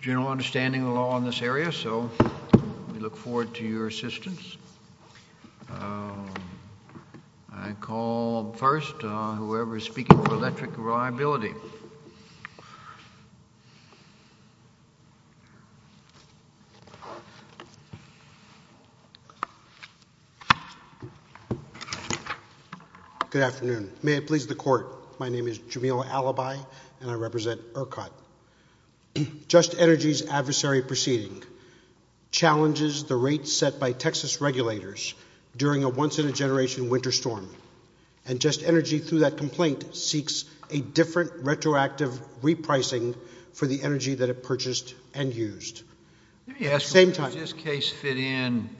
General understanding of the law in this area, so we look forward to your assistance. I call first whoever is speaking for Electric Reliability. Good afternoon. May it please the court, my name is Jamil Alibi and I represent ERCOT. Just Energy's adversary proceeding challenges the rates set by Texas regulators during a once-in-a-generation winter storm. And Just Energy through that complaint seeks a different retroactive repricing for the energy that it purchased and used. Let me ask, does this case fit in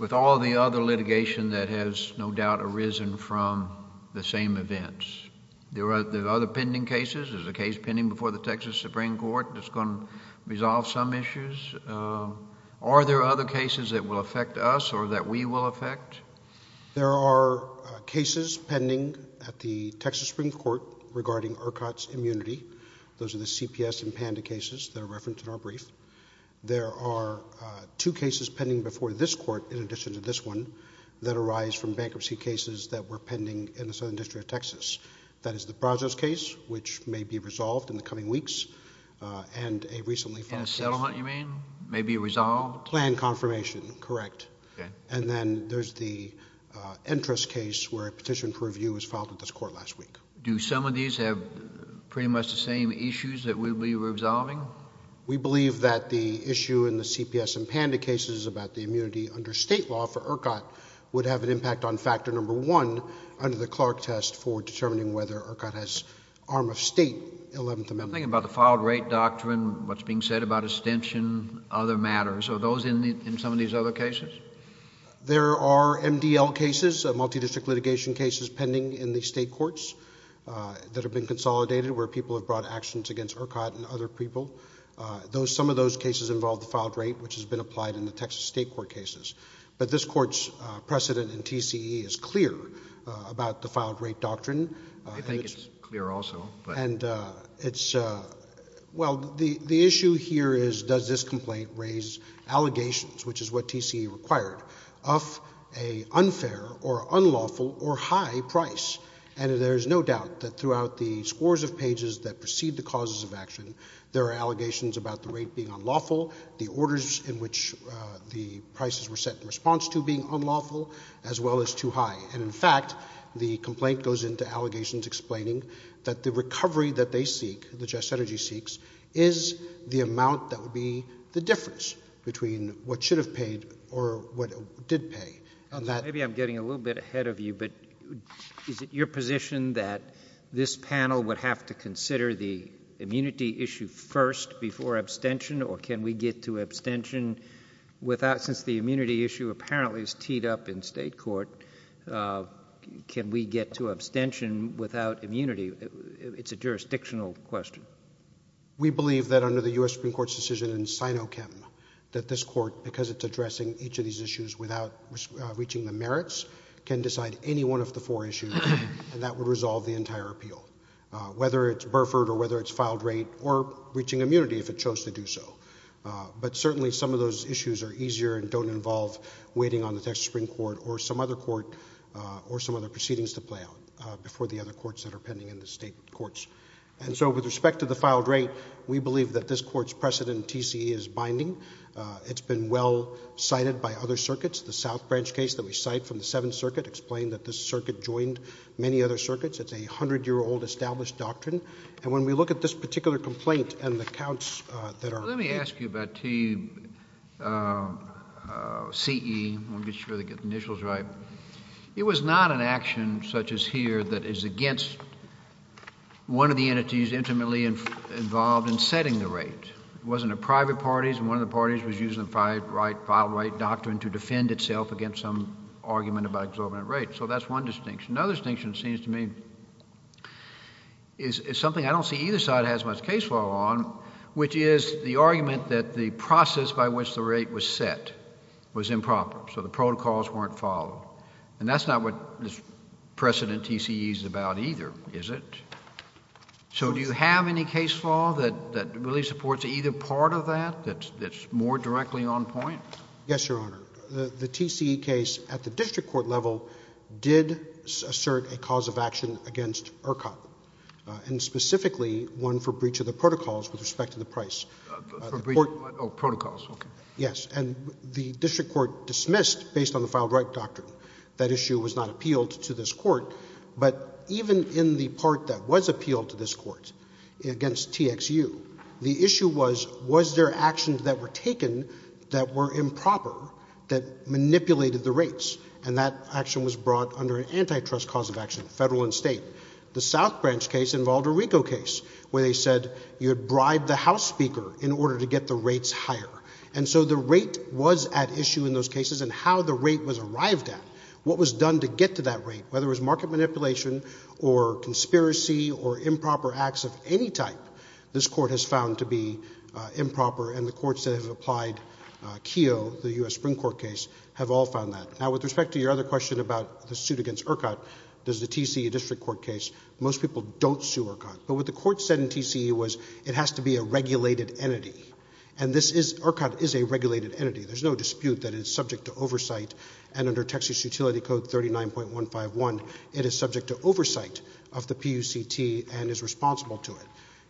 with all the other litigation that has no doubt arisen from the same events? There are other pending cases, there's a case pending before the Texas Supreme Court that's going to resolve some issues. Are there other cases that will affect us or that we will affect? There are cases pending at the Texas Supreme Court regarding ERCOT's immunity. Those are the CPS and PANDA cases that are referenced in our brief. There are two cases pending before this court in addition to this one that arise from bankruptcy cases that were pending in the Southern District of Texas. That is the Brazos case which may be resolved in the coming weeks and a recently filed case. And a sell-a-hunt you mean, may be resolved? Planned confirmation, correct. And then there's the Entrast case where a petition for review was filed at this court last week. Do some of these have pretty much the same issues that we believe we're resolving? We believe that the issue in the CPS and PANDA cases about the immunity under state law for ERCOT would have an impact on factor number one under the Clark test for determining whether ERCOT has an arm of state Eleventh Amendment. I'm thinking about the filed rate doctrine, what's being said about extension, other matters. Are those in some of these other cases? There are MDL cases, multi-district litigation cases, pending in the state courts that have been consolidated where people have brought actions against ERCOT and other people. Some of those cases involve the filed rate which has been applied in the Texas state court cases. But this court's precedent in filed rate doctrine. I think it's clear also. Well, the issue here is does this complaint raise allegations, which is what TCE required, of a unfair or unlawful or high price? And there's no doubt that throughout the scores of pages that precede the causes of action, there are allegations about the rate being unlawful, the orders in which the prices were set in response to being unlawful, as well as too high. And in fact, the complaint goes into allegations explaining that the recovery that they seek, that Just Energy seeks, is the amount that would be the difference between what should have paid or what did pay. Maybe I'm getting a little bit ahead of you, but is it your position that this panel would have to consider the immunity issue first before abstention, or can we get to abstention without immunity? It's a jurisdictional question. We believe that under the U.S. Supreme Court's decision in SINOCHEM that this court, because it's addressing each of these issues without reaching the merits, can decide any one of the four issues, and that would resolve the entire appeal, whether it's Burford or whether it's filed rate or reaching immunity if it chose to do so. But certainly some of those issues are easier and don't involve waiting on the Texas Supreme Court or some other court or some other proceedings to play out before the other courts that are pending in the state courts. And so with respect to the filed rate, we believe that this court's precedent in TCE is binding. It's been well cited by other circuits. The South Branch case that we cite from the Seventh Circuit explained that this circuit joined many other circuits. It's a hundred-year-old established doctrine. And when we look at this particular complaint and the counts that are— Let me ask you about TCE. I want to make sure I get the initials right. It was not an action, such as here, that is against one of the entities intimately involved in setting the rate. It wasn't a private party's, and one of the parties was using the filed rate doctrine to defend itself against some argument about exorbitant rates. So that's one distinction. Another distinction, it seems to me, is something I don't see either side has much case law on, which is the argument that the process by which the rate was set was improper, so the protocols weren't followed. And that's not what this precedent TCE is about either, is it? So do you have any case law that really supports either part of that, that's more directly on point? Yes, Your Honor. The TCE case at the district court level did assert a cause of action against ERCOT, and specifically one for breach of the protocols with respect to the price. Oh, protocols, okay. Yes. And the district court dismissed, based on the filed rate doctrine, that issue was not appealed to this court. But even in the part that was appealed to this court against TXU, the issue was, was there actions that were taken that were improper that manipulated the rates? And that action was brought under an antitrust cause of action, federal and state. The South Branch case involved a RICO case, where they said you had bribed the house speaker in order to get the rates higher. And so the rate was at issue in those cases, and how the rate was arrived at, what was done to get to that rate, whether it was market manipulation, or conspiracy, or improper acts of any type, this court has found to be improper, and the courts that have applied KEO, the U.S. Supreme Court case, have all found that. Now with respect to your other question about the suit against ERCOT, there's the TCE district court case, most people don't sue ERCOT. But what the court said in TCE was, it has to be a regulated entity. And this is, ERCOT is a regulated entity. There's no dispute that it's subject to oversight, and under Texas Utility Code 39.151, it is subject to oversight of the PUCT, and is responsible to it.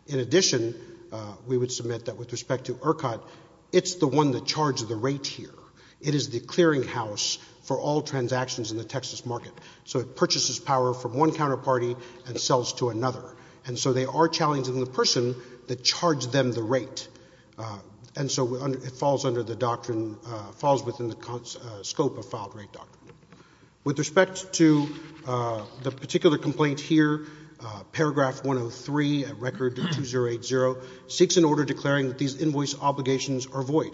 In addition, we would submit that with respect to ERCOT, it's the one that charged the rate here. It is the clearinghouse for all transactions in the Texas market. So it purchases power from one counterparty and sells to another. And so they are challenging the person that charged them the rate. And so it falls under the doctrine, falls within the scope of filed rate doctrine. With respect to the particular complaint here, paragraph 103 at record 2080, seeks an order declaring that these invoice obligations are void.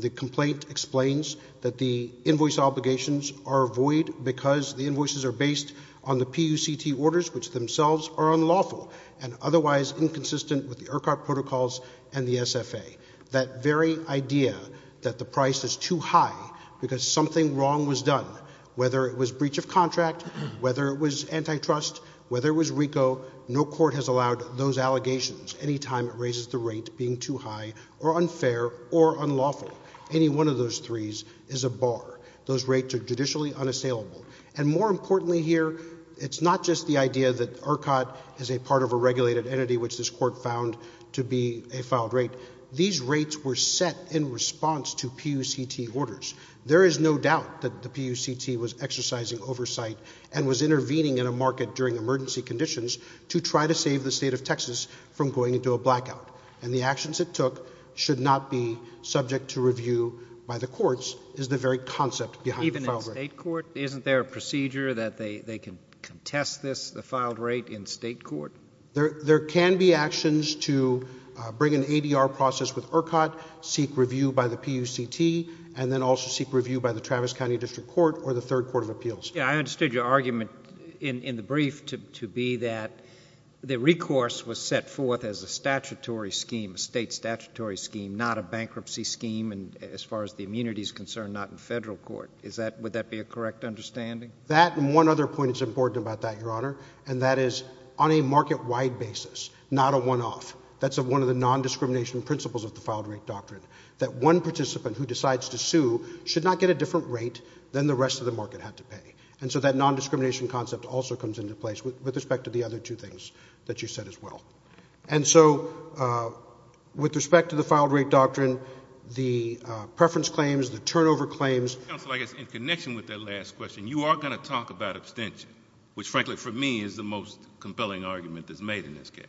The complaint explains that the invoice obligations are void because the invoices are based on the PUCT orders, which themselves are unlawful, and otherwise inconsistent with the ERCOT protocols and the SFA. That very idea that the price is too high because something wrong was done, whether it was breach of contract, whether it was antitrust, whether it was RICO, no court has allowed those allegations any time it raises the rate being too high or unfair or unlawful. Any one of those threes is a bar. Those rates are judicially unassailable. And more importantly here, it's not just the idea that ERCOT is a part of a regulated entity, which this court found to be a filed rate. These rates were set in response to PUCT orders. There is no doubt that the PUCT was exercising oversight and was intervening in a market during emergency conditions to try to save the state of Texas from going into a blackout. And the actions it took should not be subject to review by the courts, is the very concept behind the filed rate. Even in state court, isn't there a procedure that they can contest this, the filed rate, in state court? There can be actions to bring an ADR process with ERCOT, seek review by the PUCT, and then also review by the Travis County District Court or the Third Court of Appeals. Yeah, I understood your argument in the brief to be that the recourse was set forth as a statutory scheme, a state statutory scheme, not a bankruptcy scheme, and as far as the immunity is concerned, not in federal court. Would that be a correct understanding? That and one other point that's important about that, Your Honor, and that is on a market-wide basis, not a one-off. That's one of the non-discrimination principles of the filed rate doctrine, that one participant who decides to sue should not get a different rate than the rest of the market had to pay. And so that non-discrimination concept also comes into place with respect to the other two things that you said as well. And so with respect to the filed rate doctrine, the preference claims, the turnover claims— Counsel, I guess in connection with that last question, you are going to talk about abstention, which frankly for me is the most compelling argument that's made in this case.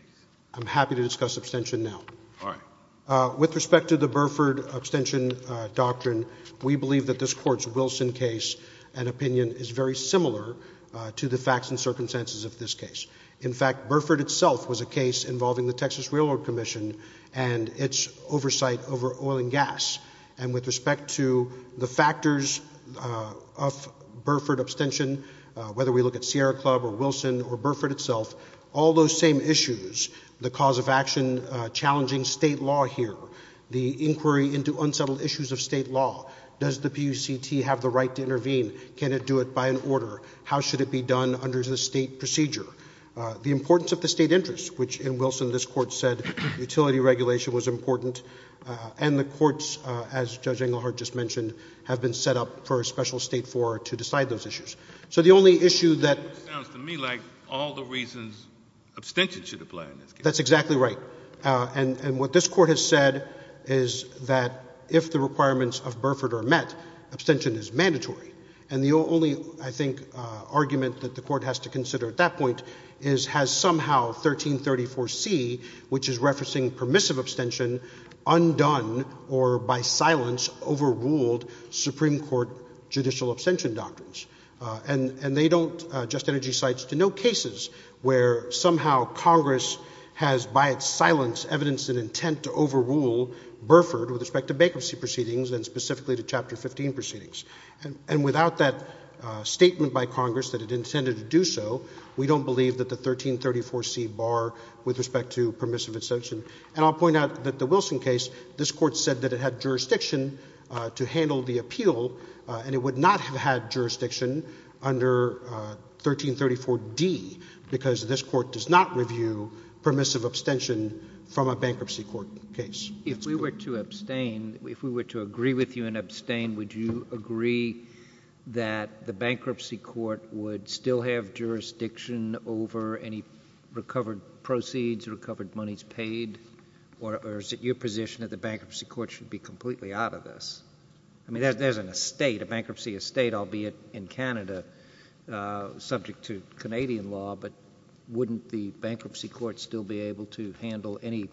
I'm happy to discuss abstention now. All right. With respect to the Burford abstention doctrine, we believe that this Court's Wilson case and opinion is very similar to the facts and circumstances of this case. In fact, Burford itself was a case involving the Texas Railroad Commission and its oversight over oil and gas. And with respect to the factors of Burford abstention, whether we look at Sierra Club or Wilson or Burford itself, all those same issues, the cause of action challenging state law here, the inquiry into unsettled issues of state law, does the PUCT have the right to intervene, can it do it by an order, how should it be done under the state procedure, the importance of the state interest, which in Wilson this Court said utility regulation was important, and the courts, as Judge Englehart just mentioned, have been set up for a special state forum to decide those issues. So the only issue that— It sounds to me like all the reasons abstention should apply in this case. That's exactly right. And what this Court has said is that if the requirements of Burford are met, abstention is mandatory. And the only, I think, argument that the Court has to consider at that point is has somehow 1334C, which is referencing permissive abstention, undone or by silence overruled Supreme Court judicial abstention doctrines. And they don't—Just Energy cites to no cases where somehow Congress has by its silence evidenced an intent to overrule Burford with respect to bankruptcy proceedings and specifically to Chapter 15 proceedings. And without that statement by Congress that it intended to do so, we don't believe that the 1334C bar with respect to permissive abstention—and I'll point out that the Wilson case, this Court said that it had jurisdiction to handle the appeal, and it would not have had jurisdiction under 1334D because this Court does not review permissive abstention from a bankruptcy court case. If we were to abstain, if we were to agree with you and abstain, would you agree that the bankruptcy court would still have jurisdiction over any recovered proceeds, recovered monies paid, or is it your position that the bankruptcy court should be completely out of this? I mean, there's an estate, a bankruptcy estate, albeit in Canada, subject to Canadian law, but wouldn't the bankruptcy court still be able to handle any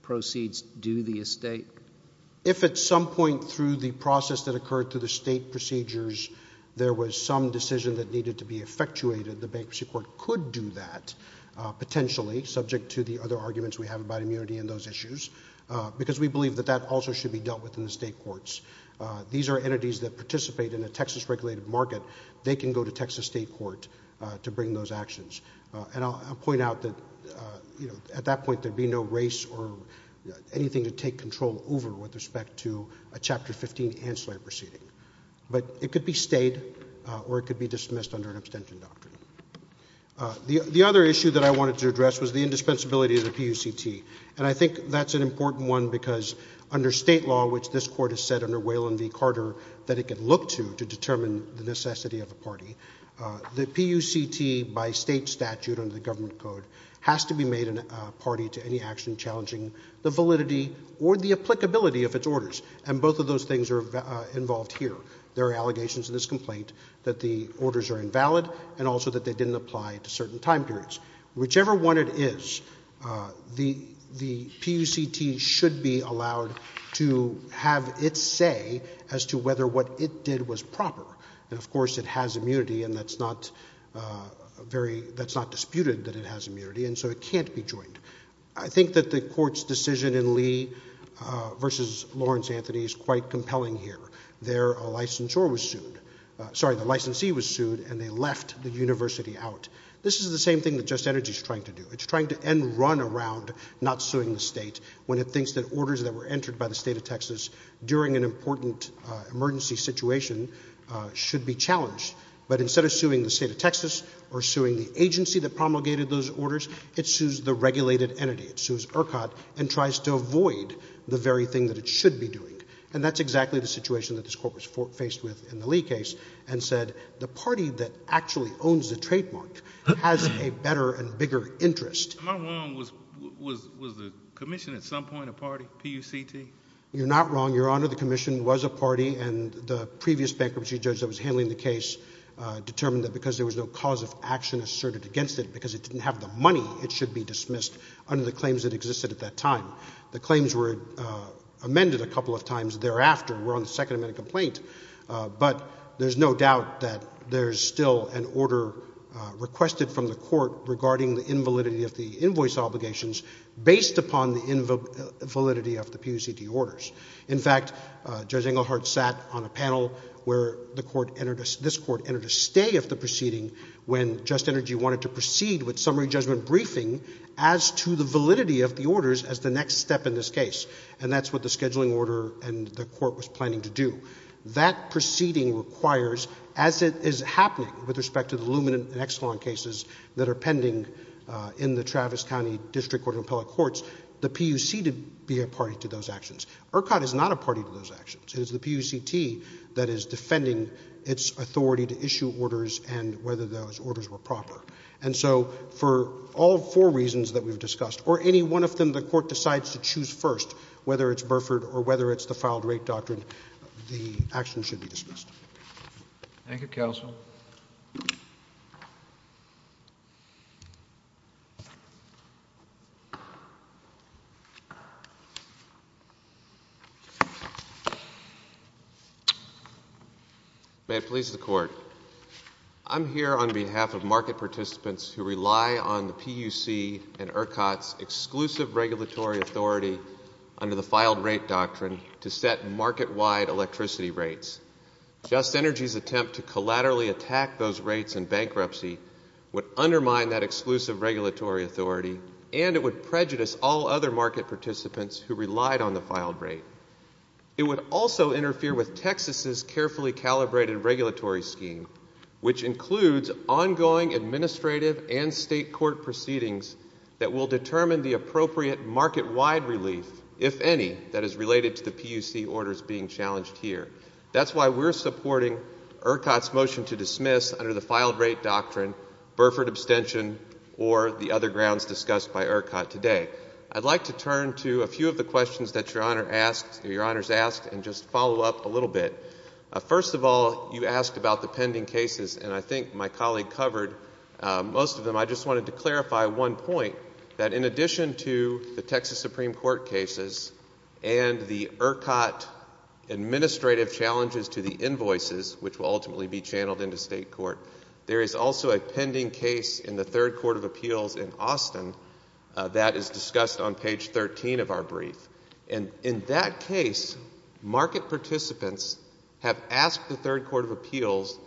proceeds due the estate? If at some point through the process that occurred through the state procedures there was some decision that needed to be effectuated, the bankruptcy court could do that potentially, subject to the other arguments we have about immunity and those issues, because we believe that that also should be dealt with in the state courts. These are entities that participate in a Texas regulated market. They can go to Texas state court to bring those actions, and I'll point out that, you know, at that point there'd be no race or anything to take control over with respect to a Chapter 15 ancillary proceeding, but it could be stayed or it could dismissed under an abstention doctrine. The other issue that I wanted to address was the indispensability of the PUCT, and I think that's an important one because under state law, which this court has said under Waylon v. Carter that it can look to to determine the necessity of a party, the PUCT by state statute under the government code has to be made a party to any action challenging the validity or the applicability of its orders, and both of those things are invalid, and also that they didn't apply to certain time periods. Whichever one it is, the PUCT should be allowed to have its say as to whether what it did was proper, and of course it has immunity, and that's not disputed that it has immunity, and so it can't be joined. I think that the court's decision in Lee v. Lawrence Anthony is quite compelling here. There, a licensor was sued, sorry, the licensee was sued, and they left the university out. This is the same thing that Just Energy is trying to do. It's trying to end run around not suing the state when it thinks that orders that were entered by the state of Texas during an important emergency situation should be challenged, but instead of suing the state of Texas or suing the agency that promulgated those orders, it sues the regulated entity. It sues ERCOT and tries to avoid the very thing that it should be doing, and that's exactly the court was faced with in the Lee case and said the party that actually owns the trademark has a better and bigger interest. Am I wrong? Was the commission at some point a party, PUCT? You're not wrong, Your Honor. The commission was a party, and the previous bankruptcy judge that was handling the case determined that because there was no cause of action asserted against it because it didn't have the money, it should be dismissed under the claims that existed at that time. The claims were amended a couple of times thereafter. We're on the second amendment complaint, but there's no doubt that there's still an order requested from the court regarding the invalidity of the invoice obligations based upon the invalidity of the PUCT orders. In fact, Judge Engelhardt sat on a panel where this court entered a stay of the proceeding when Just Energy wanted to proceed with summary judgment briefing as to the validity of the orders as the next step in this case, and that's what the scheduling order and the court was planning to do. That proceeding requires, as it is happening with respect to the Luminant and Exelon cases that are pending in the Travis County District Court and Appellate Courts, the PUC to be a party to those actions. ERCOT is not a party to those actions. It is the PUCT that is defending its authority to issue and so for all four reasons that we've discussed, or any one of them the court decides to choose first, whether it's Burford or whether it's the filed rate doctrine, the actions should be dismissed. Thank you, counsel. May it please the court. I'm here on behalf of market participants who rely on the PUC and ERCOT's exclusive regulatory authority under the filed rate doctrine to set market-wide electricity rates. Just Energy's attempt to collaterally assess the availability of electricity and bankruptcy would undermine that exclusive regulatory authority and it would prejudice all other market participants who relied on the filed rate. It would also interfere with Texas's carefully calibrated regulatory scheme, which includes ongoing administrative and state court proceedings that will determine the appropriate market-wide relief, if any, that is related to under the filed rate doctrine, Burford abstention, or the other grounds discussed by ERCOT today. I'd like to turn to a few of the questions that your honor asked or your honors asked and just follow up a little bit. First of all, you asked about the pending cases and I think my colleague covered most of them. I just wanted to clarify one point that in addition to the Texas Supreme Court cases and the ERCOT administrative challenges to the invoices, which will ultimately be referred to the state court, there is also a pending case in the Third Court of Appeals in Austin that is discussed on page 13 of our brief. And in that case, market participants have asked the Third Court of Appeals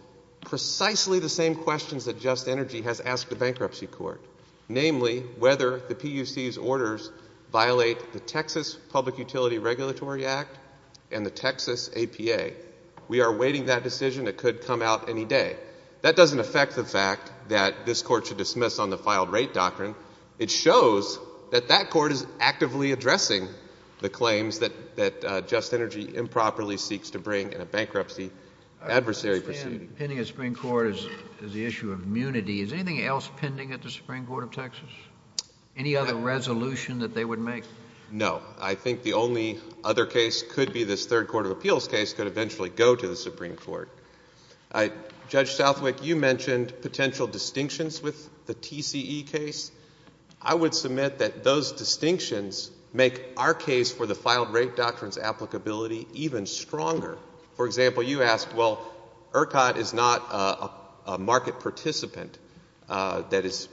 precisely the same questions that Just Energy has asked the bankruptcy court, namely whether the PUC's orders violate the Texas Public Utility Regulatory Act and the Texas APA. We are awaiting that decision. It could come out any day. That doesn't affect the fact that this court should dismiss on the filed rate doctrine. It shows that that court is actively addressing the claims that Just Energy improperly seeks to bring in a bankruptcy adversary proceeding. Pending a Supreme Court is the issue of immunity. Is anything else pending at the Supreme Court of Texas? Any other resolution that they would make? No. I think the only other case could be this Court of Appeals case could eventually go to the Supreme Court. Judge Southwick, you mentioned potential distinctions with the TCE case. I would submit that those distinctions make our case for the filed rate doctrine's applicability even stronger. For example, you asked, well, ERCOT is not a market participant that is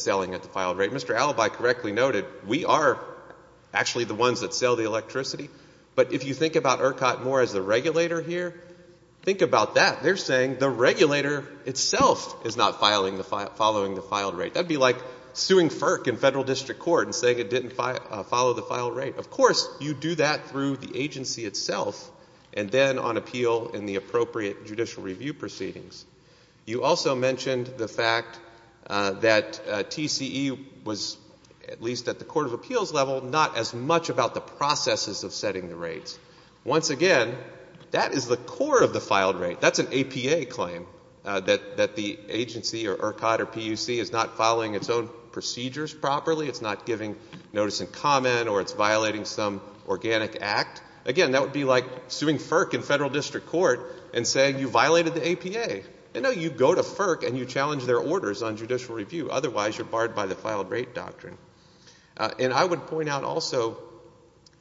selling at the filed rate. Mr. Alibi correctly noted, we are actually the ones that sell the electricity. But if you think about ERCOT more as the regulator here, think about that. They're saying the regulator itself is not following the filed rate. That would be like suing FERC in federal district court and saying it didn't follow the filed rate. Of course, you do that through the agency itself and then on appeal in the appropriate judicial review proceedings. You also mentioned the fact that TCE was at least at the Court of Appeals level, not as much about the processes of setting the rates. Once again, that is the core of the filed rate. That's an APA claim, that the agency or ERCOT or PUC is not following its own procedures properly. It's not giving notice and comment or it's violating some organic act. Again, that would be like suing FERC in federal district court and saying you violated the APA. No, you go to FERC and you challenge their orders on judicial review. Otherwise, you're barred by the filed rate doctrine. And I would point out also,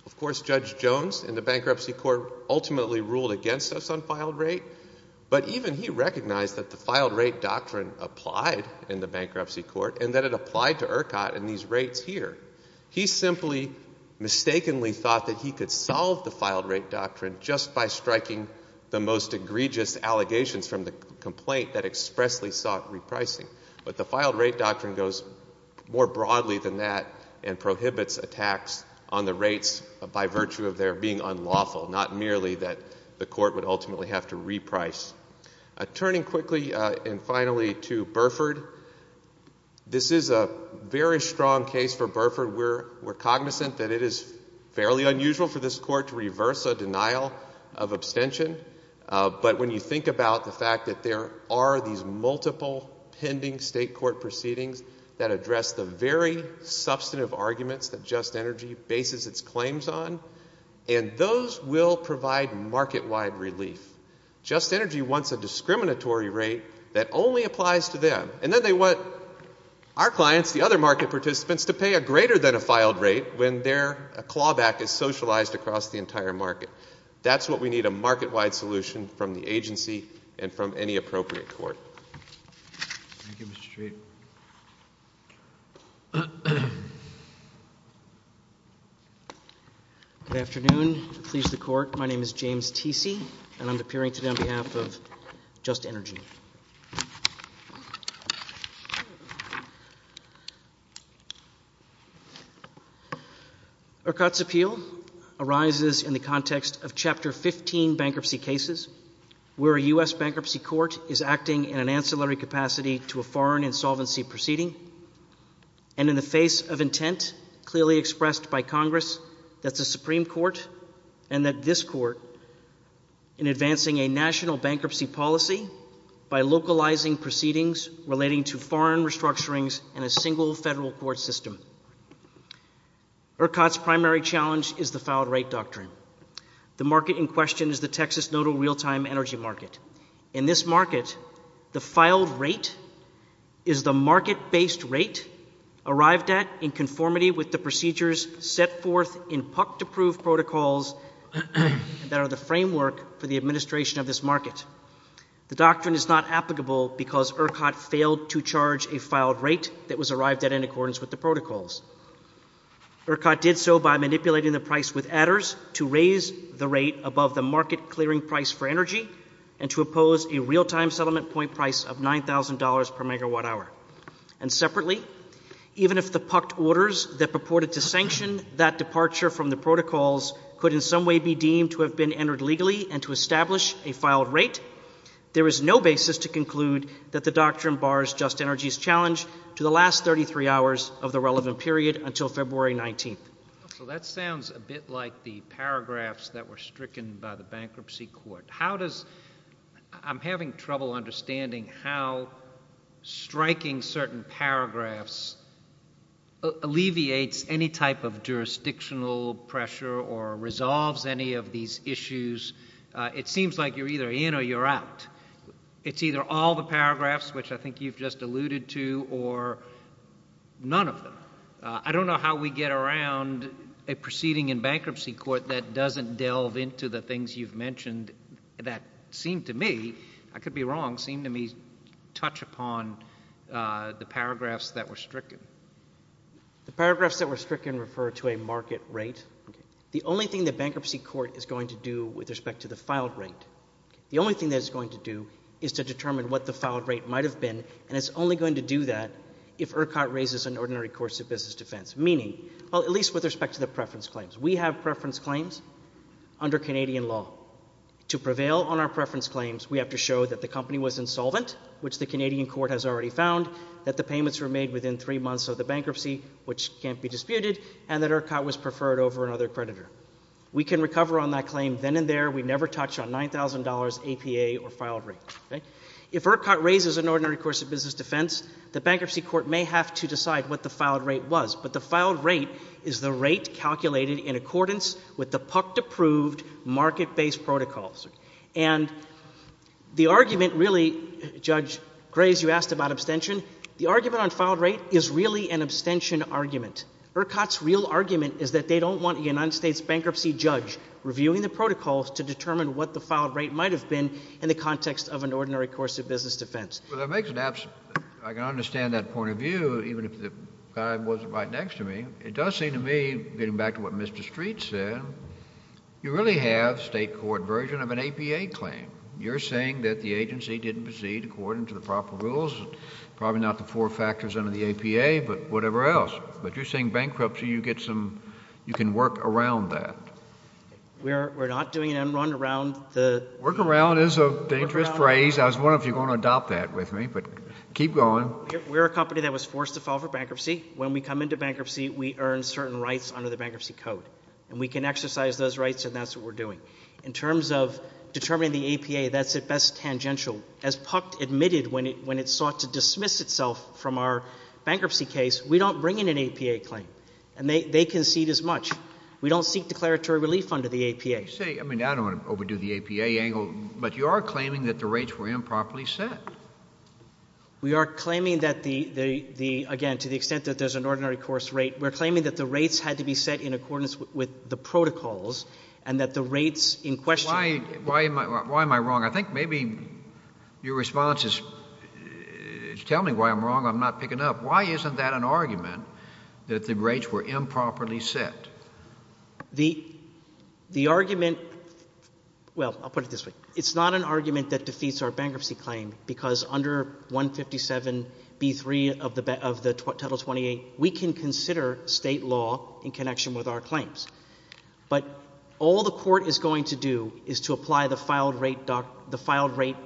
of course, Judge Jones in the Bankruptcy Court ultimately ruled against us on filed rate, but even he recognized that the filed rate doctrine applied in the Bankruptcy Court and that it applied to ERCOT in these rates here. He simply mistakenly thought that he could solve the filed rate doctrine just by striking the most egregious allegations from the complaint that expressly sought repricing. But the filed rate doctrine goes more broadly than that and prohibits attacks on the rates by virtue of their being unlawful, not merely that the court would ultimately have to reprice. Turning quickly and finally to Burford, this is a very strong case for Burford. We're cognizant that it is fairly unusual for this court to reverse a denial of abstention, but when you think about the fact that there are these multiple pending state court proceedings that address the very substantive arguments that Just Energy bases its claims on, and those will provide market-wide relief. Just Energy wants a discriminatory rate that only applies to them, and then they want our clients, the other market participants, to pay a greater than a filed rate when their clawback is socialized across the entire market. That's what we need, a market-wide solution from the agency and from any appropriate court. Thank you, Mr. Treat. Good afternoon. Please, the court. My name is James Teesey, and I'm appearing today on behalf of Just Energy. Ercott's appeal arises in the context of Chapter 15 bankruptcy cases, where a U.S. bankruptcy court is acting in an ancillary capacity to a foreign insolvency proceeding, and in the face of intent clearly expressed by Congress that the Supreme Court and that this court, in advancing a national bankruptcy policy, by localizing proceedings relating to foreign restructurings in a single federal court system. Ercott's primary challenge is the filed rate doctrine. The market in question is the Texas Nodal real-time energy market. In this market, the filed rate is the market-based rate arrived at in conformity with the procedures set forth in PUC to prove protocols that are the framework for the administration of this market. The doctrine is not applicable because Ercott failed to charge a filed rate that was arrived at in accordance with the protocols. Ercott did so by manipulating the price with adders to raise the rate above the market clearing price for energy and to oppose a real-time settlement point price of $9,000 per megawatt hour. And separately, even if the PUC orders that purported to sanction that departure from the established a filed rate, there is no basis to conclude that the doctrine bars Just Energy's challenge to the last 33 hours of the relevant period until February 19th. That sounds a bit like the paragraphs that were stricken by the bankruptcy court. I'm having trouble understanding how striking certain paragraphs are. It seems like you're either in or you're out. It's either all the paragraphs, which I think you've just alluded to, or none of them. I don't know how we get around a proceeding in bankruptcy court that doesn't delve into the things you've mentioned that seem to me, I could be wrong, seem to me touch upon the paragraphs that were stricken. The paragraphs that were stricken refer to a market rate. The only thing the bankruptcy court is going to do with respect to the filed rate, the only thing that it's going to do is to determine what the filed rate might have been, and it's only going to do that if Ercott raises an ordinary course of business defense. Meaning, well, at least with respect to the preference claims, under Canadian law, to prevail on our preference claims, we have to show that the company was insolvent, which the Canadian court has already found, that the payments were made within three months of the bankruptcy, which can't be disputed, and that Ercott was preferred over another creditor. We can recover on that claim then and there. We never touch on $9,000 APA or filed rate. If Ercott raises an ordinary course of business defense, the bankruptcy court may have to decide what the filed rate was, but the filed rate is the rate calculated in accordance with the PUCT-approved market-based protocols. And the argument really, Judge Graves, you asked about abstention. The argument on filed rate is really an abstention argument. Ercott's real argument is that they don't want a United States bankruptcy judge reviewing the protocols to determine what the filed rate might have been in the context of an ordinary course of business defense. Well, that makes it absent. I can understand that point of view, even if the judge wasn't right next to me. It does seem to me, getting back to what Mr. Street said, you really have state court version of an APA claim. You're saying that the agency didn't proceed according to the proper rules, probably not the four factors under the APA, but whatever else. But you're saying bankruptcy, you get some, you can work around that. We're not doing an en run around the... Work around is a dangerous phrase. I was wondering if you're going to adopt that with me, but keep going. We're a company that was forced to file for bankruptcy. When we come into bankruptcy, we earn certain rights under the bankruptcy code. And we can exercise those rights, and that's what we're doing. In terms of determining the APA, that's at best tangential. As PUCT admitted when it sought to dismiss itself from our bankruptcy case, we don't bring in an APA claim. And they concede as much. We don't seek declaratory relief under the APA. I mean, I don't want to overdo the APA angle, but you are claiming that the rates were improperly set. We are claiming that the, again, to the extent that there's an ordinary course rate, we're claiming that the rates had to be set in accordance with the protocols, and that the rates in question... Why am I wrong? I think maybe your response is, tell me why I'm wrong, I'm not picking up. Why isn't that an argument, that the rates were improperly set? The argument, well, I'll put it this way. It's not an argument that defeats our bankruptcy claim, because under 157B3 of the Title 28, we can consider State law in connection with our claims. But all the Court is going to do is to apply the filed rate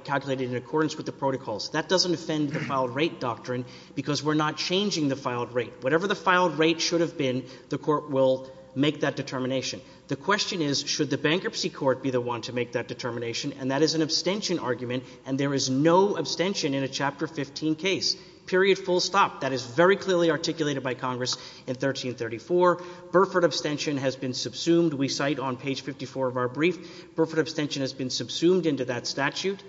calculated in accordance with the protocols. That doesn't offend the filed rate doctrine, because we're not changing the filed rate. Whatever the filed rate should have been, the Court will make that determination. The question is, should the bankruptcy court be the one to make that determination? And that is an abstention argument, and there is no abstention in a Chapter 15 case, period, full stop. That is very clearly articulated by Congress in 1334. Burford abstention has been subsumed, we cite on page 54 of our brief. Burford abstention has been subsumed into that statute.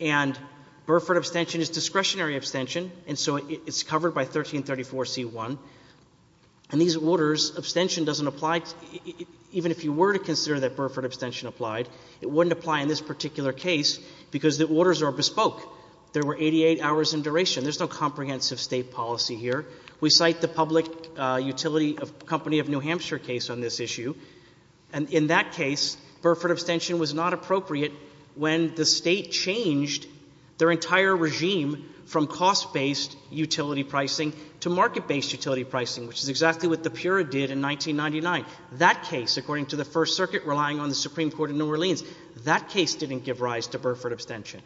And Burford abstention is discretionary abstention, and so it's covered by 1334C1. And these orders, abstention doesn't apply, even if you were to consider that Burford abstention applied, it wouldn't apply in this particular case, because the orders are bespoke. There were 88 hours in duration. There's no comprehensive State policy here. We cite the public utility company of New Hampshire case on this issue. And in that case, Burford abstention was not appropriate when the State changed their entire regime from cost-based utility pricing to market-based utility pricing, which is exactly what the PURA did in 1999. That case, according to the First Circuit, relying on the Supreme Court of New Orleans, that case didn't give rise to Burford abstention.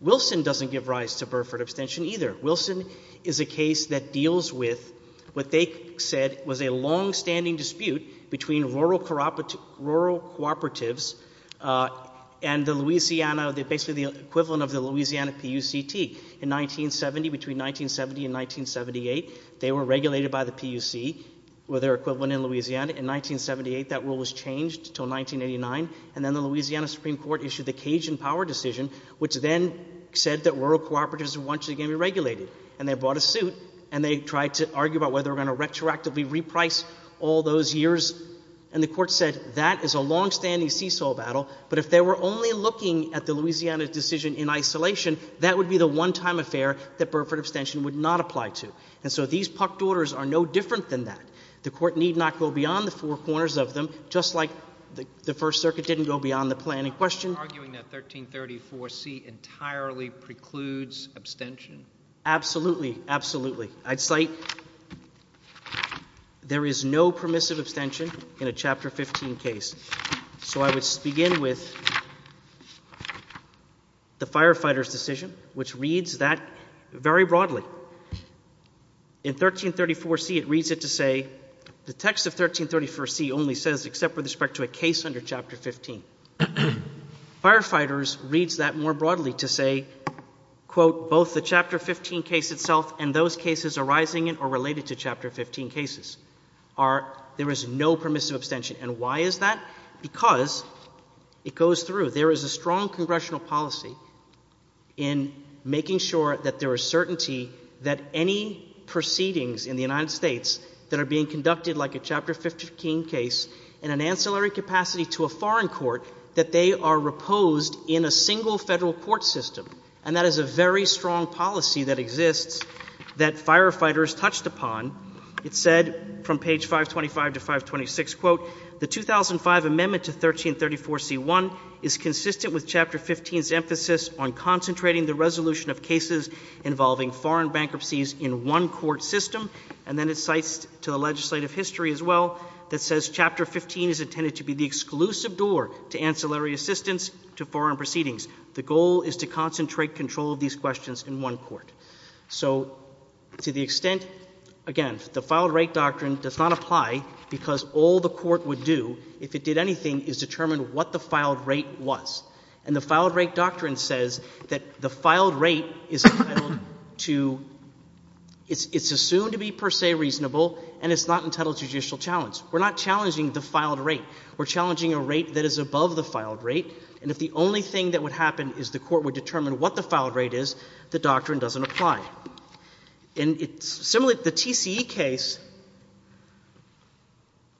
Wilson doesn't give rise to Burford abstention either. Wilson is a case that deals with what they said was a longstanding dispute between rural cooperatives and the Louisiana, basically the equivalent of the Louisiana PUCT. In 1970, between 1970 and 1978, they were regulated by the PUC, or their equivalent in Louisiana. In 1978, that rule was changed until 1989, and then the Louisiana Supreme Court issued the Cajun Power Decision, which then said that rural cooperatives weren't actually going to be regulated. And they bought a suit, and they tried to argue about whether they were going to retroactively reprice all those years. And the Court said that is a longstanding seesaw battle, but if they were only looking at the Louisiana decision in isolation, that would be the one-time affair that Burford abstention would not apply to. And so these PUCT orders are no different than that. The Court need not go beyond the four corners of them, just like the First Circuit arguing that 1334C entirely precludes abstention. Absolutely, absolutely. I'd cite there is no permissive abstention in a Chapter 15 case. So I would begin with the firefighter's decision, which reads that very broadly. In 1334C, it reads it to say the text of 1334C only says except with respect to a case under Chapter 15. Firefighters reads that more broadly to say, quote, both the Chapter 15 case itself and those cases arising in or related to Chapter 15 cases are, there is no permissive abstention. And why is that? Because it goes through. There is a strong congressional policy in making sure that there is certainty that any proceedings in the United States that are being conducted like a Chapter 15 case in an ancillary capacity to a foreign court, that they are reposed in a single federal court system. And that is a very strong policy that exists that firefighters touched upon. It said from page 525 to 526, quote, the 2005 amendment to 1334C.1 is consistent with Chapter 15's emphasis on concentrating the resolution of cases involving foreign bankruptcies in one court system. And then it cites to the legislative history as well that says Chapter 15 is intended to be the exclusive door to ancillary assistance to foreign proceedings. The goal is to concentrate control of these questions in one court. So to the extent, again, the filed rate doctrine does not apply because all the court would do, if it did anything, is determine what the filed rate was. And the filed rate doctrine says that the filed rate is entitled to, it's assumed to be per se reasonable, and it's not entitled to judicial challenge. We're not challenging the filed rate. We're challenging a rate that is above the filed rate. And if the only thing that would happen is the court would determine what the filed rate is, the doctrine doesn't apply. And similarly, the TCE case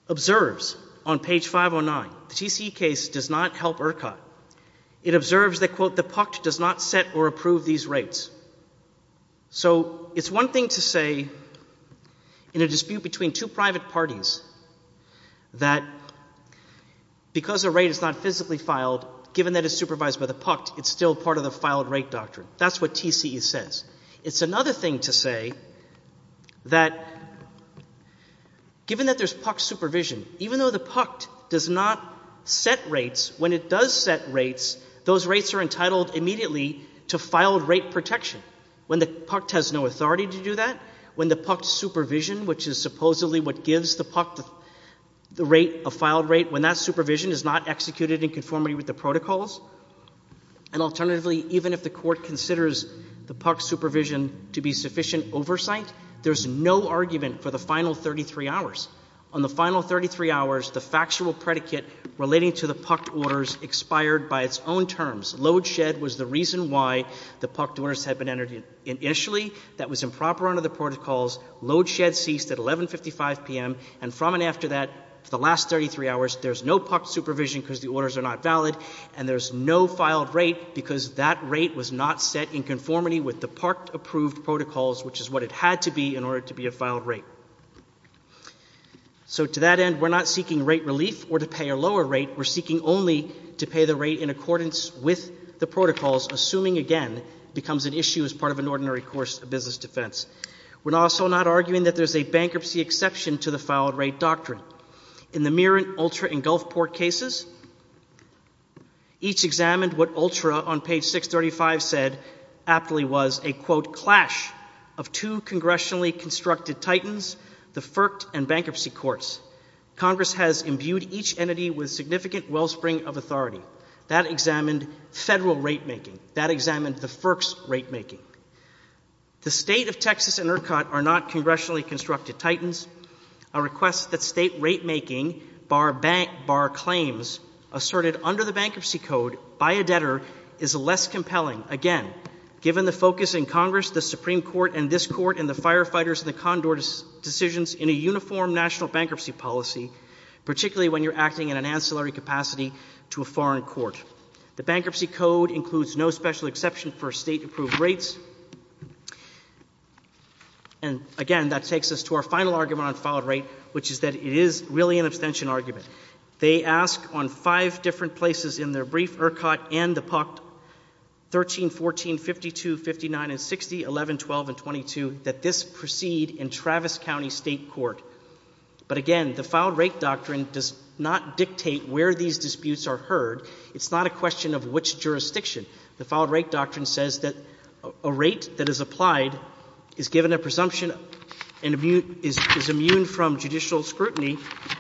observes on page 509, the TCE case does not help ERCOT. It observes that, quote, does not set or approve these rates. So it's one thing to say in a dispute between two private parties that because a rate is not physically filed, given that it's supervised by the PUCT, it's still part of the filed rate doctrine. That's what TCE says. It's another thing to say that given that there's PUCT supervision, even though the PUCT does not set rates, when it does set rates, those rates are entitled immediately to filed rate protection. When the PUCT has no authority to do that, when the PUCT supervision, which is supposedly what gives the PUCT the rate, a filed rate, when that supervision is not executed in conformity with the protocols, and alternatively, even if the court considers the PUCT supervision to be sufficient oversight, there's no argument for the final 33 hours. On the final 33 hours, the factual predicate relating to the PUCT orders expired by its own terms. Load shed was the reason why the PUCT orders had been entered initially. That was improper under the protocols. Load shed ceased at 11.55 p.m., and from and after that, for the last 33 hours, there's no PUCT supervision because the orders are not valid, and there's no filed rate because that rate was not set in conformity with the PUCT-approved protocols, which is what it had to be in order to be a filed rate. So, to that end, we're not seeking rate relief or to pay a lower rate. We're seeking only to pay the rate in accordance with the protocols, assuming, again, it becomes an issue as part of an ordinary course of business defense. We're also not arguing that there's a bankruptcy exception to the filed rate doctrine. In the Mirren, Ultra, and Gulfport cases, each examined what Ultra, on page 635, said aptly was a, quote, clash of two congressionally constructed titans, the FERC and bankruptcy courts. Congress has imbued each entity with significant wellspring of authority. That examined federal rate making. That examined the FERC's rate making. The state of Texas and Irkut are not congressionally constructed titans. A request that state rate making, bar bank, bar claims, asserted under the bankruptcy code, by a debtor, is less compelling, again, given the focus in Congress, the Supreme Court, and this court, and the firefighters, and the condor decisions in a uniform national bankruptcy policy, particularly when you're acting in an ancillary capacity to a foreign court. The bankruptcy code includes no special exception for state approved rates. And, again, that takes us to our final argument on filed rate, which is that it is really an abstention argument. They ask on five different places in their brief, Irkut and the PUC, 13, 14, 52, 59, and 60, 11, 12, and 22, that this proceed in Travis County State Court. But, again, the filed rate doctrine does not dictate where these disputes are heard. It's not a question of which jurisdiction. The filed rate doctrine says that a rate that is applied is given a presumption and is immune from judicial scrutiny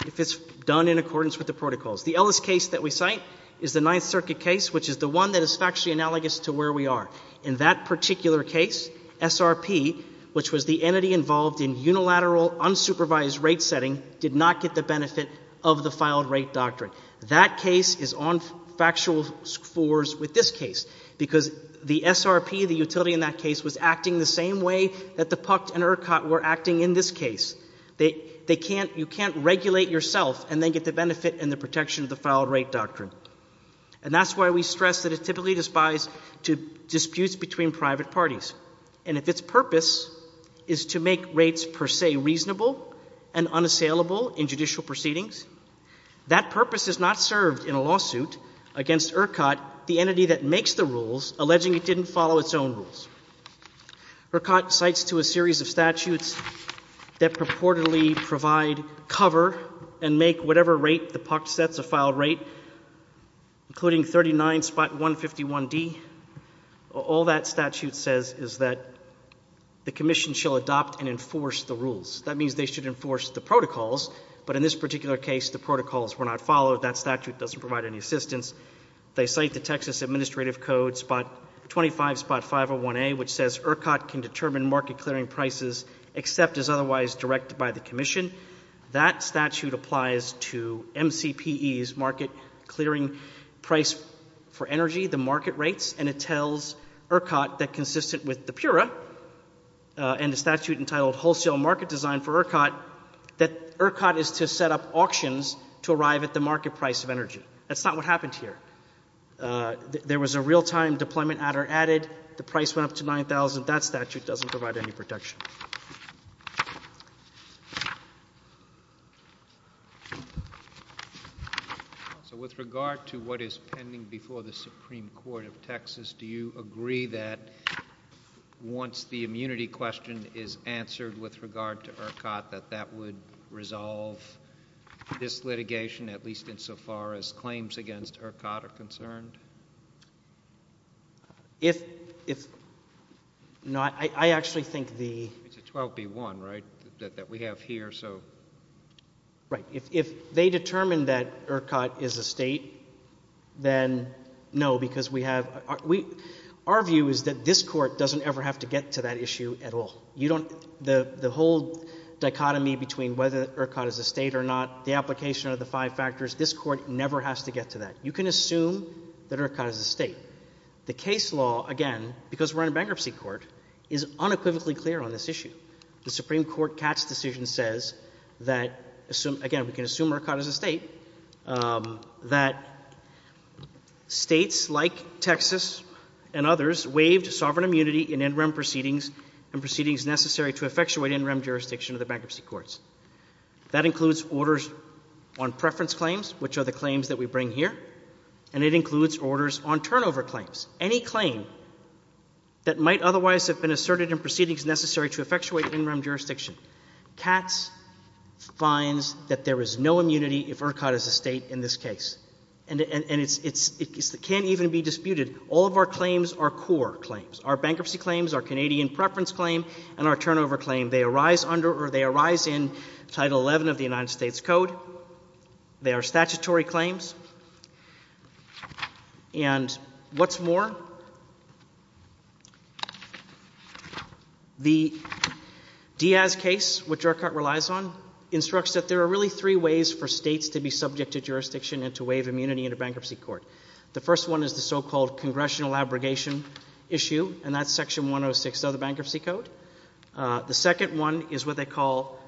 if it's done in accordance with the protocols. The Ellis case that we cite is the Ninth Circuit case, which is the one that is factually analogous to where we are. In that particular case, SRP, which was the entity involved in unilateral, unsupervised rate setting, did not get the benefit of the filed rate doctrine. That case is on factual scores with this case, because the SRP, the utility in that case, was acting the same way that the PUC and Irkut were acting in this case. You can't regulate yourself and then get the benefit and the protection of the filed rate doctrine. And that's why we stress that it typically despise disputes between private parties. And if its purpose is to make rates per se reasonable and unassailable in judicial proceedings, that purpose is not served in a lawsuit against Irkut, the entity that makes the rules, alleging it didn't follow its own rules. Irkut cites to a series of statutes that purportedly provide cover and make whatever rate the PUC sets a filed rate, including 39.151D. All that statute says is that the Commission shall adopt and enforce the rules. That means they should enforce the protocols, but in this particular case, the protocols were not followed. That statute doesn't provide any assistance. They cite the Texas Administrative Code 25.501A, which says Irkut can determine market-clearing prices except as otherwise directed by the Commission. That statute applies to MCPE's market-clearing price for energy, the market rates, and it tells Irkut that consistent with the PURA and the statute entitled Wholesale Market Design for Irkut, that Irkut is to set up auctions to arrive at the market price of energy. That's not what happened here. There was a real-time deployment added. The price went up to 9,000. That statute doesn't provide any protection. So with regard to what is pending before the Supreme Court of Texas, do you agree that once the immunity question is answered with regard to Irkut, that that would resolve this litigation, at least insofar as claims against Irkut are concerned? It's a 12B1, right, that we have here, so... Right. If they determine that Irkut is a state, then no, because our view is that this court doesn't ever have to get to that issue at all. The whole dichotomy between whether Irkut is a state or not, the application of the five factors, this court never has to get to that. You can assume that Irkut is a state. The case law, again, because we're in a bankruptcy court, is unequivocally clear on this issue. The Supreme Court Katz decision says that, again, we can assume Irkut is a state, that states like Texas and others waived sovereign immunity in NREM proceedings and proceedings necessary to effectuate NREM jurisdiction of the bankruptcy courts. That includes orders on preference claims, which are the claims that we bring here, and it includes orders on turnover claims. Any claim that might otherwise have been asserted in proceedings necessary to effectuate NREM jurisdiction, Katz finds that there is no immunity if Irkut is a state in this case, and it can't even be disputed. All of our claims are core claims. Our bankruptcy claims, our Canadian preference claim, and our turnover claim, they arise in Title XI of the United States Code. They are statutory claims. And what's more, the Diaz case, which Irkut relies on, instructs that there are really three ways for states to be subject to jurisdiction and to waive immunity in a bankruptcy court. The first one is the so-called congressional abrogation issue, and that's Section 106 of the Bankruptcy Code. The second one is what they call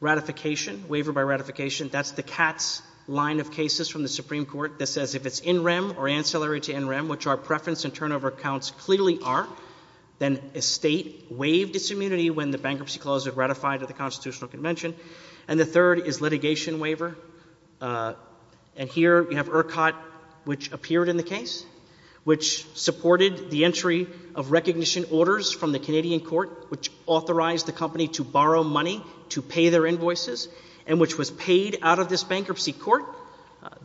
ratification, waiver by ratification. That's the Katz line of cases from the Supreme Court that says if it's NREM or ancillary to NREM, which our preference and turnover counts clearly are, then a state waived its immunity when the bankruptcy clause was ratified at the Constitutional Convention. And the third is litigation waiver. And here you have Irkut, which appeared in the case, which supported the entry of recognition orders from the Canadian court, which authorized the company to borrow money to pay their invoices, and which was paid out of this bankruptcy court.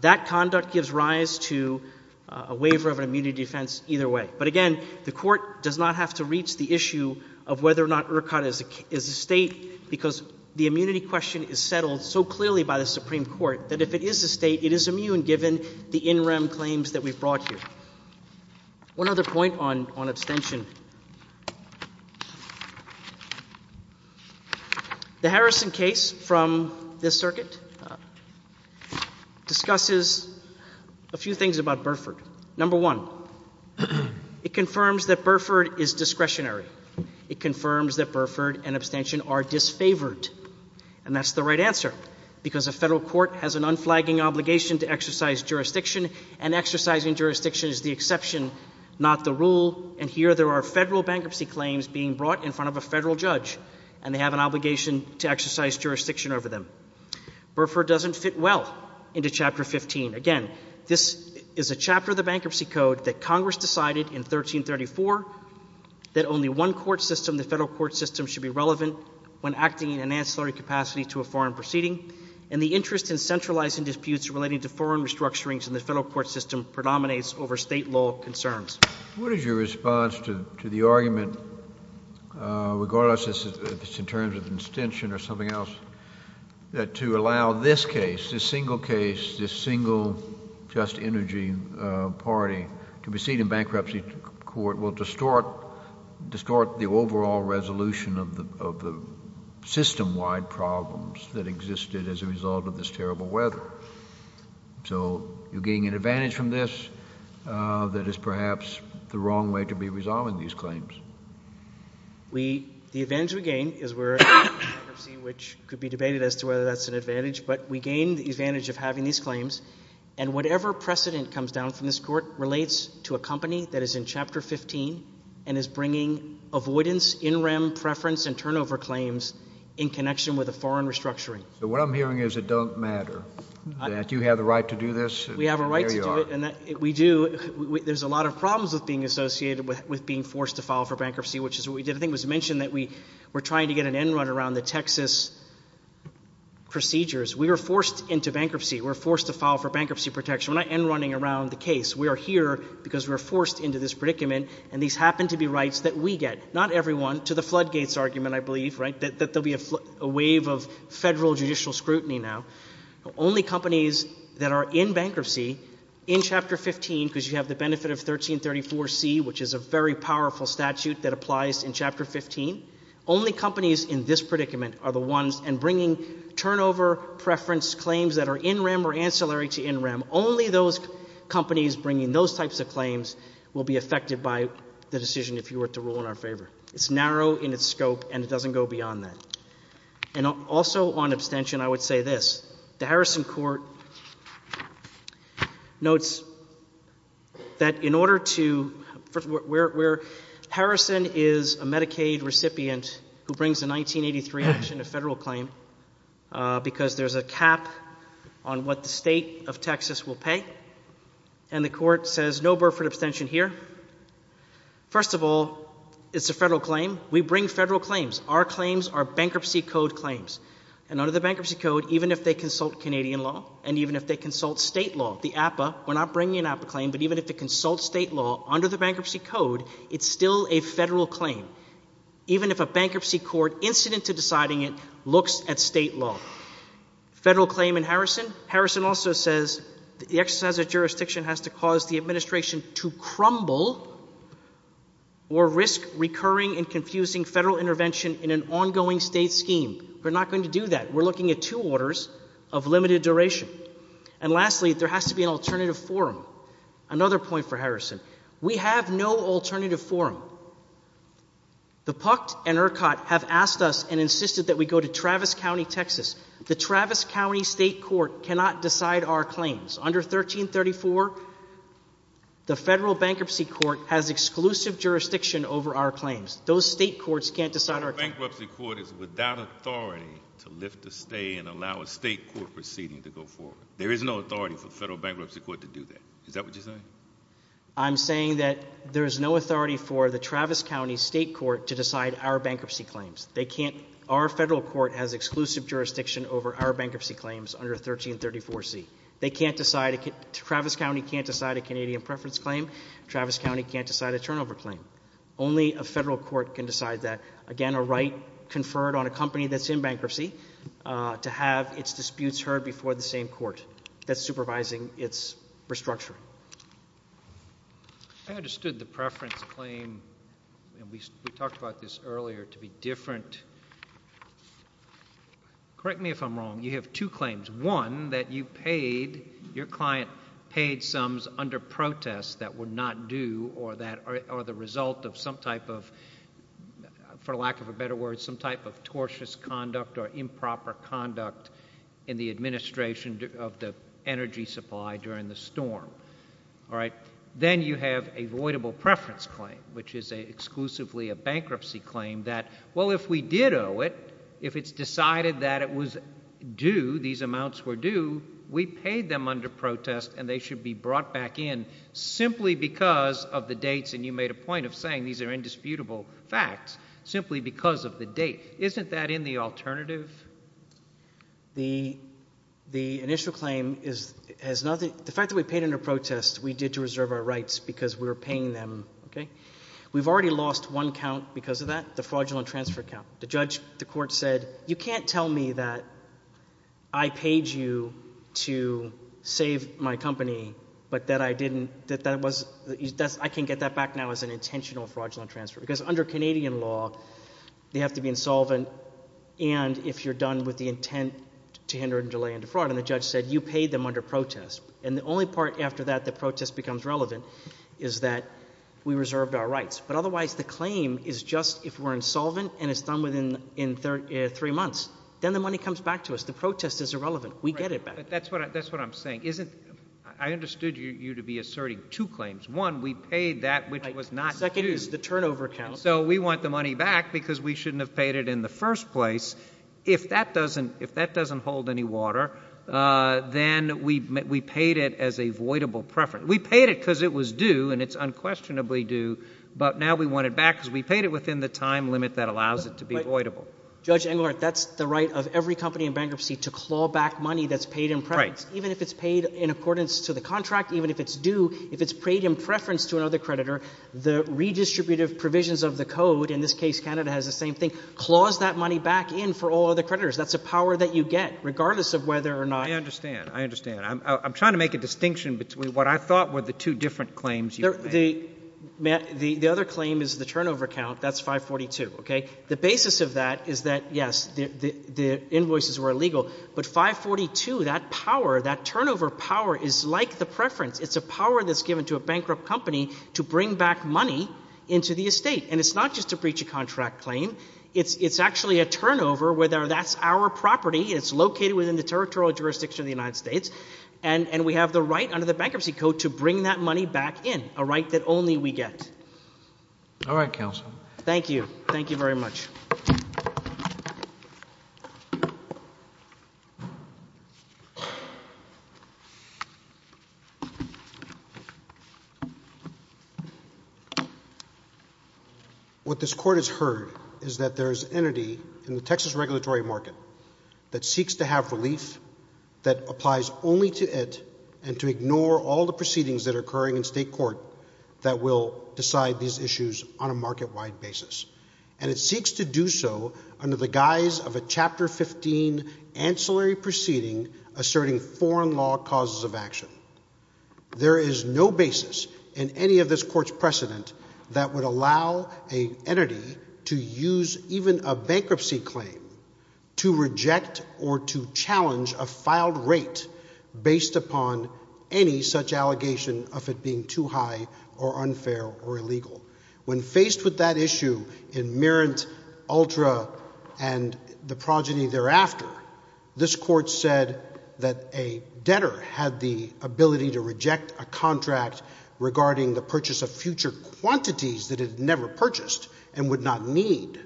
That conduct gives rise to a waiver of an immunity defense either way. But again, the court does not have to reach the issue of whether or not Irkut is a state because the immunity question is settled so clearly by the Supreme Court that if it is a state, it is immune given the NREM claims that we've brought here. One other point on abstention. The Harrison case from this circuit discusses a few things about Burford. Number one, it confirms that Burford is discretionary. It confirms that Burford and abstention are disfavored. And that's the right answer because a federal court has an unflagging obligation to exercise jurisdiction, and exercising jurisdiction is the exception, not the rule. And here there are federal bankruptcy claims being brought in front of a federal judge, and they have an obligation to exercise jurisdiction over them. Burford doesn't fit well into Chapter 15. Again, this is a chapter of the Bankruptcy Code that Congress decided in 1334 that only one court system, the federal court system, should be relevant when acting in an ancillary capacity to a foreign proceeding, and the interest in centralizing disputes relating to foreign restructurings in the federal court system predominates over state law concerns. What is your response to the argument, regardless if it's in terms of abstention or something else, that to allow this case, this single case, this single just energy party to proceed in bankruptcy court will distort the overall resolution of the system-wide problems that existed as a result of the bankruptcy case, and that's the wrong way to be resolving these claims? We, the advantage we gain is we're in bankruptcy, which could be debated as to whether that's an advantage, but we gain the advantage of having these claims, and whatever precedent comes down from this Court relates to a company that is in Chapter 15 and is bringing avoidance, in-rem, preference, and turnover claims in connection with a foreign restructuring. So what I'm hearing is it don't matter, that you have the right to do this, and there you are. We have a right to do it, and we do. There's a lot of problems with being associated with being forced to file for bankruptcy, which is what we did. I think it was mentioned that we were trying to get an end-run around the Texas procedures. We were forced into bankruptcy. We were forced to file for bankruptcy protection. We're not end-running around the case. We are here because we were forced into this predicament, and these happen to be rights that we get, not everyone, to the floodgates argument, I believe, right, that there will be a wave of federal judicial scrutiny now. Only companies that are in bankruptcy in Chapter 15, because you have the benefit of 1334C, which is a very powerful statute that applies in Chapter 15, only companies in this predicament are the ones, and bringing turnover, preference, claims that are in-rem or ancillary to in-rem, only those companies bringing those types of claims will be affected by the decision if you were to rule in our favor. It's narrow in its scope, and it doesn't go beyond that. And also on abstention, I would say this. The Harrison Court notes that in order to—Harrison is a Medicaid recipient who brings a 1983 action, a federal claim, because there's a cap on what the state of Texas will pay, and the Court says no Burford abstention here. First of all, it's a federal claim. We bring federal claims. Our claims are Bankruptcy Code claims. And under the Bankruptcy Code, even if they consult Canadian law, and even if they consult state law, the APA—we're not bringing an APA claim, but even if they consult state law, under the Bankruptcy Code, it's still a federal claim, even if a bankruptcy court incident to deciding it looks at state law. Federal claim in Harrison. Harrison also says the exercise of jurisdiction has to cause the administration to crumble or risk recurring and confusing federal intervention in an ongoing state scheme. We're not going to do that. We're looking at two orders of limited duration. And lastly, there has to be an alternative forum. Another point for Harrison. We have no alternative forum. The PUCT and ERCOT have asked us and insisted that we go to Travis County, Texas. The Travis County State Court cannot decide our claims. Under 1334, the Federal Bankruptcy Court has exclusive jurisdiction over our claims. Those state courts can't decide our— The bankruptcy court is without authority to lift a stay and allow a state court proceeding to go forward. There is no authority for the Federal Bankruptcy Court to do that. Is that what you're saying? I'm saying that there is no authority for the Travis County State Court to decide our bankruptcy claims. They can't—our federal court has exclusive jurisdiction over our bankruptcy claims under 1334C. They can't decide—Travis County can't decide a Canadian preference claim. Travis County can't decide a turnover claim. Only a federal court can decide that. Again, a right conferred on a company that's in bankruptcy to have its disputes heard before the same court that's supervising its restructuring. I understood the preference claim—and we talked about this earlier—to be different. Correct me if I'm wrong. You have two claims. One, that you paid—your client paid sums under protest that were not due or that are the result of some type of—for lack of a better word—some type of tortious conduct or improper conduct in the administration of the energy supply during the storm. All right? Then you have a voidable preference claim, which is exclusively a bankruptcy claim that, well, if we did owe it, if it's decided that it was due, these amounts were due, we paid them under protest and they should be brought back in simply because of the dates—and you made a point of saying these are indisputable facts—simply because of the date. Isn't that in the alternative? The initial claim has nothing—the fact that we paid under protest, we did to reserve our rights because we were paying them, okay? We've already lost one count because of that. The fraudulent transfer count. The judge—the court said, you can't tell me that I paid you to save my company but that I didn't—that that was—I can get that back now as an intentional fraudulent transfer because under Canadian law, they have to be insolvent and if you're done with the intent to hinder and delay and defraud. And the judge said, you paid them under protest. And the only part after that the protest becomes relevant is that we reserved our rights. But otherwise, the claim is just if we're insolvent and it's done within three months. Then the money comes back to us. The protest is irrelevant. We get it back. That's what I'm saying. I understood you to be asserting two claims. One, we paid that which was not due. Second is the turnover count. So we want the money back because we shouldn't have paid it in the first place. If that doesn't hold any water, then we paid it as a voidable preference. We paid it because it was due and it's unquestionably due. But now we want it back because we paid it within the time limit that allows it to be voidable. Judge Englert, that's the right of every company in bankruptcy to claw back money that's paid in preference. Even if it's paid in accordance to the contract, even if it's due, if it's paid in preference to another creditor, the redistributive provisions of the code—in this case, Canada has the same thing—claws that money back in for all other creditors. That's a power that you get regardless of whether or not— I understand. I understand. I'm trying to make a distinction between what I thought were the two different claims you made. The other claim is the turnover count. That's 542, okay? The basis of that is that, yes, the invoices were illegal, but 542, that power, that turnover power is like the preference. It's a power that's given to a bankrupt company to bring back money into the estate. And it's not just a breach of contract claim. It's actually a turnover, whether that's our property, it's located within the And we have the right under the Bankruptcy Code to bring that money back in, a right that only we get. All right, counsel. Thank you. Thank you very much. What this Court has heard is that there's an entity in the Texas regulatory market that applies only to it and to ignore all the proceedings that are occurring in state court that will decide these issues on a market-wide basis. And it seeks to do so under the guise of a Chapter 15 ancillary proceeding asserting foreign law causes of action. There is no basis in any of this Court's precedent that would allow an entity to use even a bankruptcy claim to reject or to challenge a filed rate based upon any such allegation of it being too high or unfair or illegal. When faced with that issue in Merritt, Ultra, and the progeny thereafter, this Court said that a debtor had the ability to reject a contract regarding the purchase of future quantities that it had never purchased and would not need.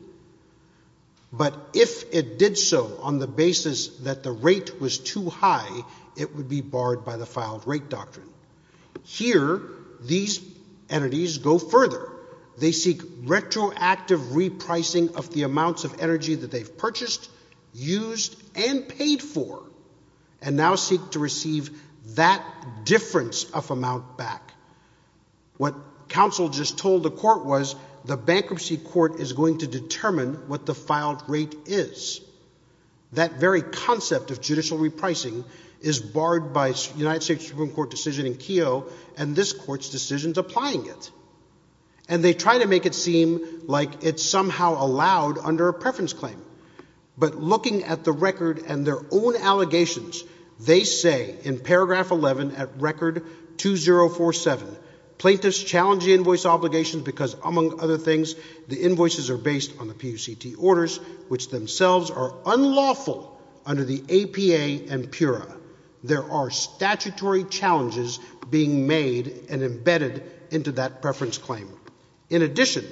But if it did so on the basis that the rate was too high, it would be barred by the filed rate doctrine. Here, these entities go further. They seek retroactive repricing of the amounts of energy that they've purchased, used, and paid for, and now seek to receive that difference of amount back. What counsel just told the Court was, the bankruptcy Court is going to determine what the filed rate is. That very concept of judicial repricing is barred by a United States Supreme Court decision in Keogh, and this Court's decision is applying it. And they try to make it seem like it's somehow allowed under a preference claim. But looking at the record and their own allegations, they say in paragraph 11 at record 2047, plaintiffs challenge the invoice obligation because, among other things, the invoices are based on the PUCT orders, which themselves are unlawful under the APA and PURA. There are statutory challenges being made and embedded into that preference claim. In addition,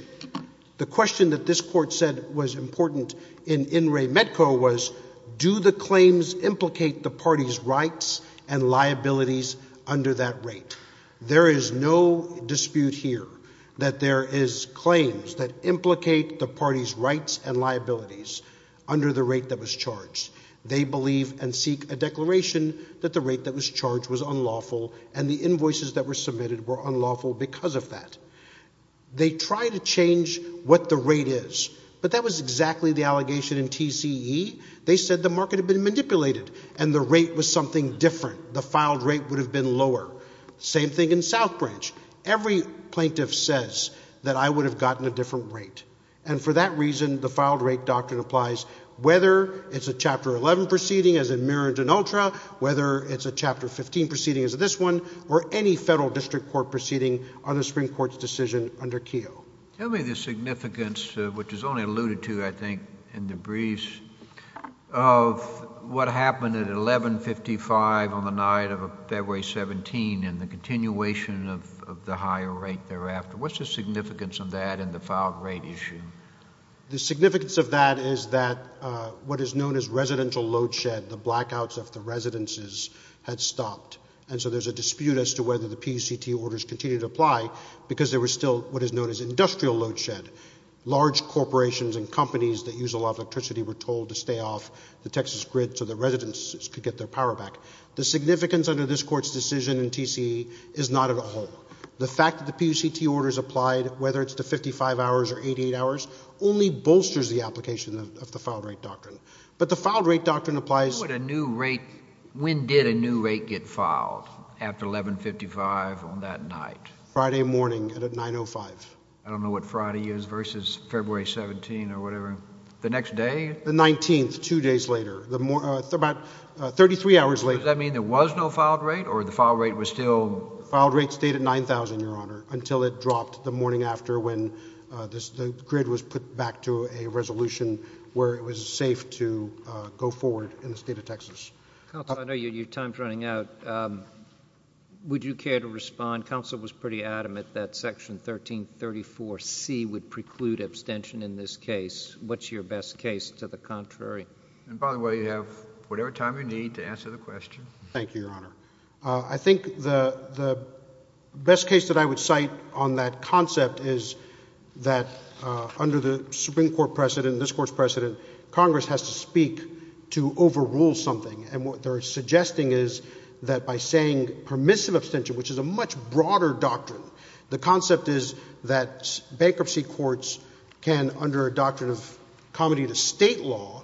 the question that this Court said was important in In re Medco was, do the claims implicate the party's rights and liabilities under that rate? There is no dispute here that there is claims that implicate the party's rights and liabilities under the rate that was charged. They believe and seek a declaration that the rate that was charged was unlawful, and the invoices that were submitted were unlawful because of that. They try to change what the rate is. But that was exactly the allegation in TCE. They said the market had been manipulated and the rate was something different. The filed rate would have been lower. Same thing in South Branch. Every plaintiff says that I would have gotten a different rate. And for that reason, the filed rate doctrine applies whether it's a Chapter 11 proceeding as in Merritt and Ultra, whether it's a Chapter 15 proceeding as this one, or any district court proceeding on the Supreme Court's decision under Keogh. Tell me the significance, which is only alluded to, I think, in the briefs, of what happened at 1155 on the night of February 17 and the continuation of the higher rate thereafter. What's the significance of that in the filed rate issue? The significance of that is that what is known as residential load shed, the blackouts of the residences had stopped. And so there's a dispute as to whether the PUCT orders continue to apply because there was still what is known as industrial load shed. Large corporations and companies that use a lot of electricity were told to stay off the Texas grid so the residences could get their power back. The significance under this court's decision in TCE is not at all. The fact that the PUCT orders applied, whether it's to 55 hours or 88 hours, only bolsters the application of the filed rate doctrine. But the filed rate doctrine applies— When did a new rate get filed after 1155 on that night? Friday morning at 9.05. I don't know what Friday is versus February 17 or whatever. The next day? The 19th, two days later, about 33 hours later. Does that mean there was no filed rate or the filed rate was still— Filed rate stayed at 9,000, Your Honor, until it dropped the morning after when the grid was put back to a resolution where it was safe to go forward in the state of Texas. Counsel, I know your time's running out. Would you care to respond? Counsel was pretty adamant that Section 1334C would preclude abstention in this case. What's your best case to the contrary? And by the way, you have whatever time you need to answer the question. Thank you, Your Honor. I think the best case that I would cite on that concept is that under the Supreme Court discourse precedent, Congress has to speak to overrule something. And what they're suggesting is that by saying permissive abstention, which is a much broader doctrine, the concept is that bankruptcy courts can, under a doctrine of comedy to state law,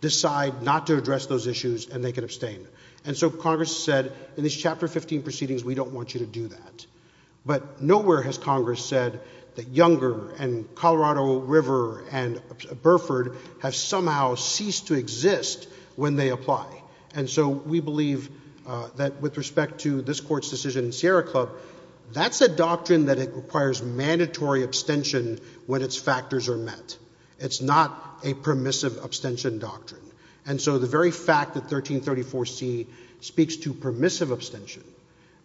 decide not to address those issues and they can abstain. And so Congress said, in these Chapter 15 proceedings, we don't want you to do that. But nowhere has Congress said that Younger and Colorado River and Burford have somehow ceased to exist when they apply. And so we believe that with respect to this Court's decision in Sierra Club, that's a doctrine that it requires mandatory abstention when its factors are met. It's not a permissive abstention doctrine. And so the very fact that 1334C speaks to permissive abstention,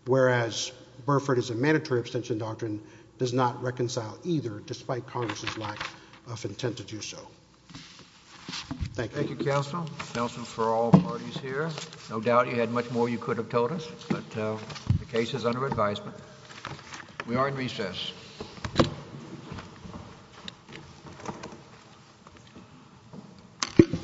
whereas Burford is a mandatory abstention doctrine, does not reconcile either, despite Congress's lack of intent to do so. Thank you. Thank you, Counsel. Counsel for all parties here. No doubt you had much more you could have told us, but the case is under advisement. We are in recess. Thank you.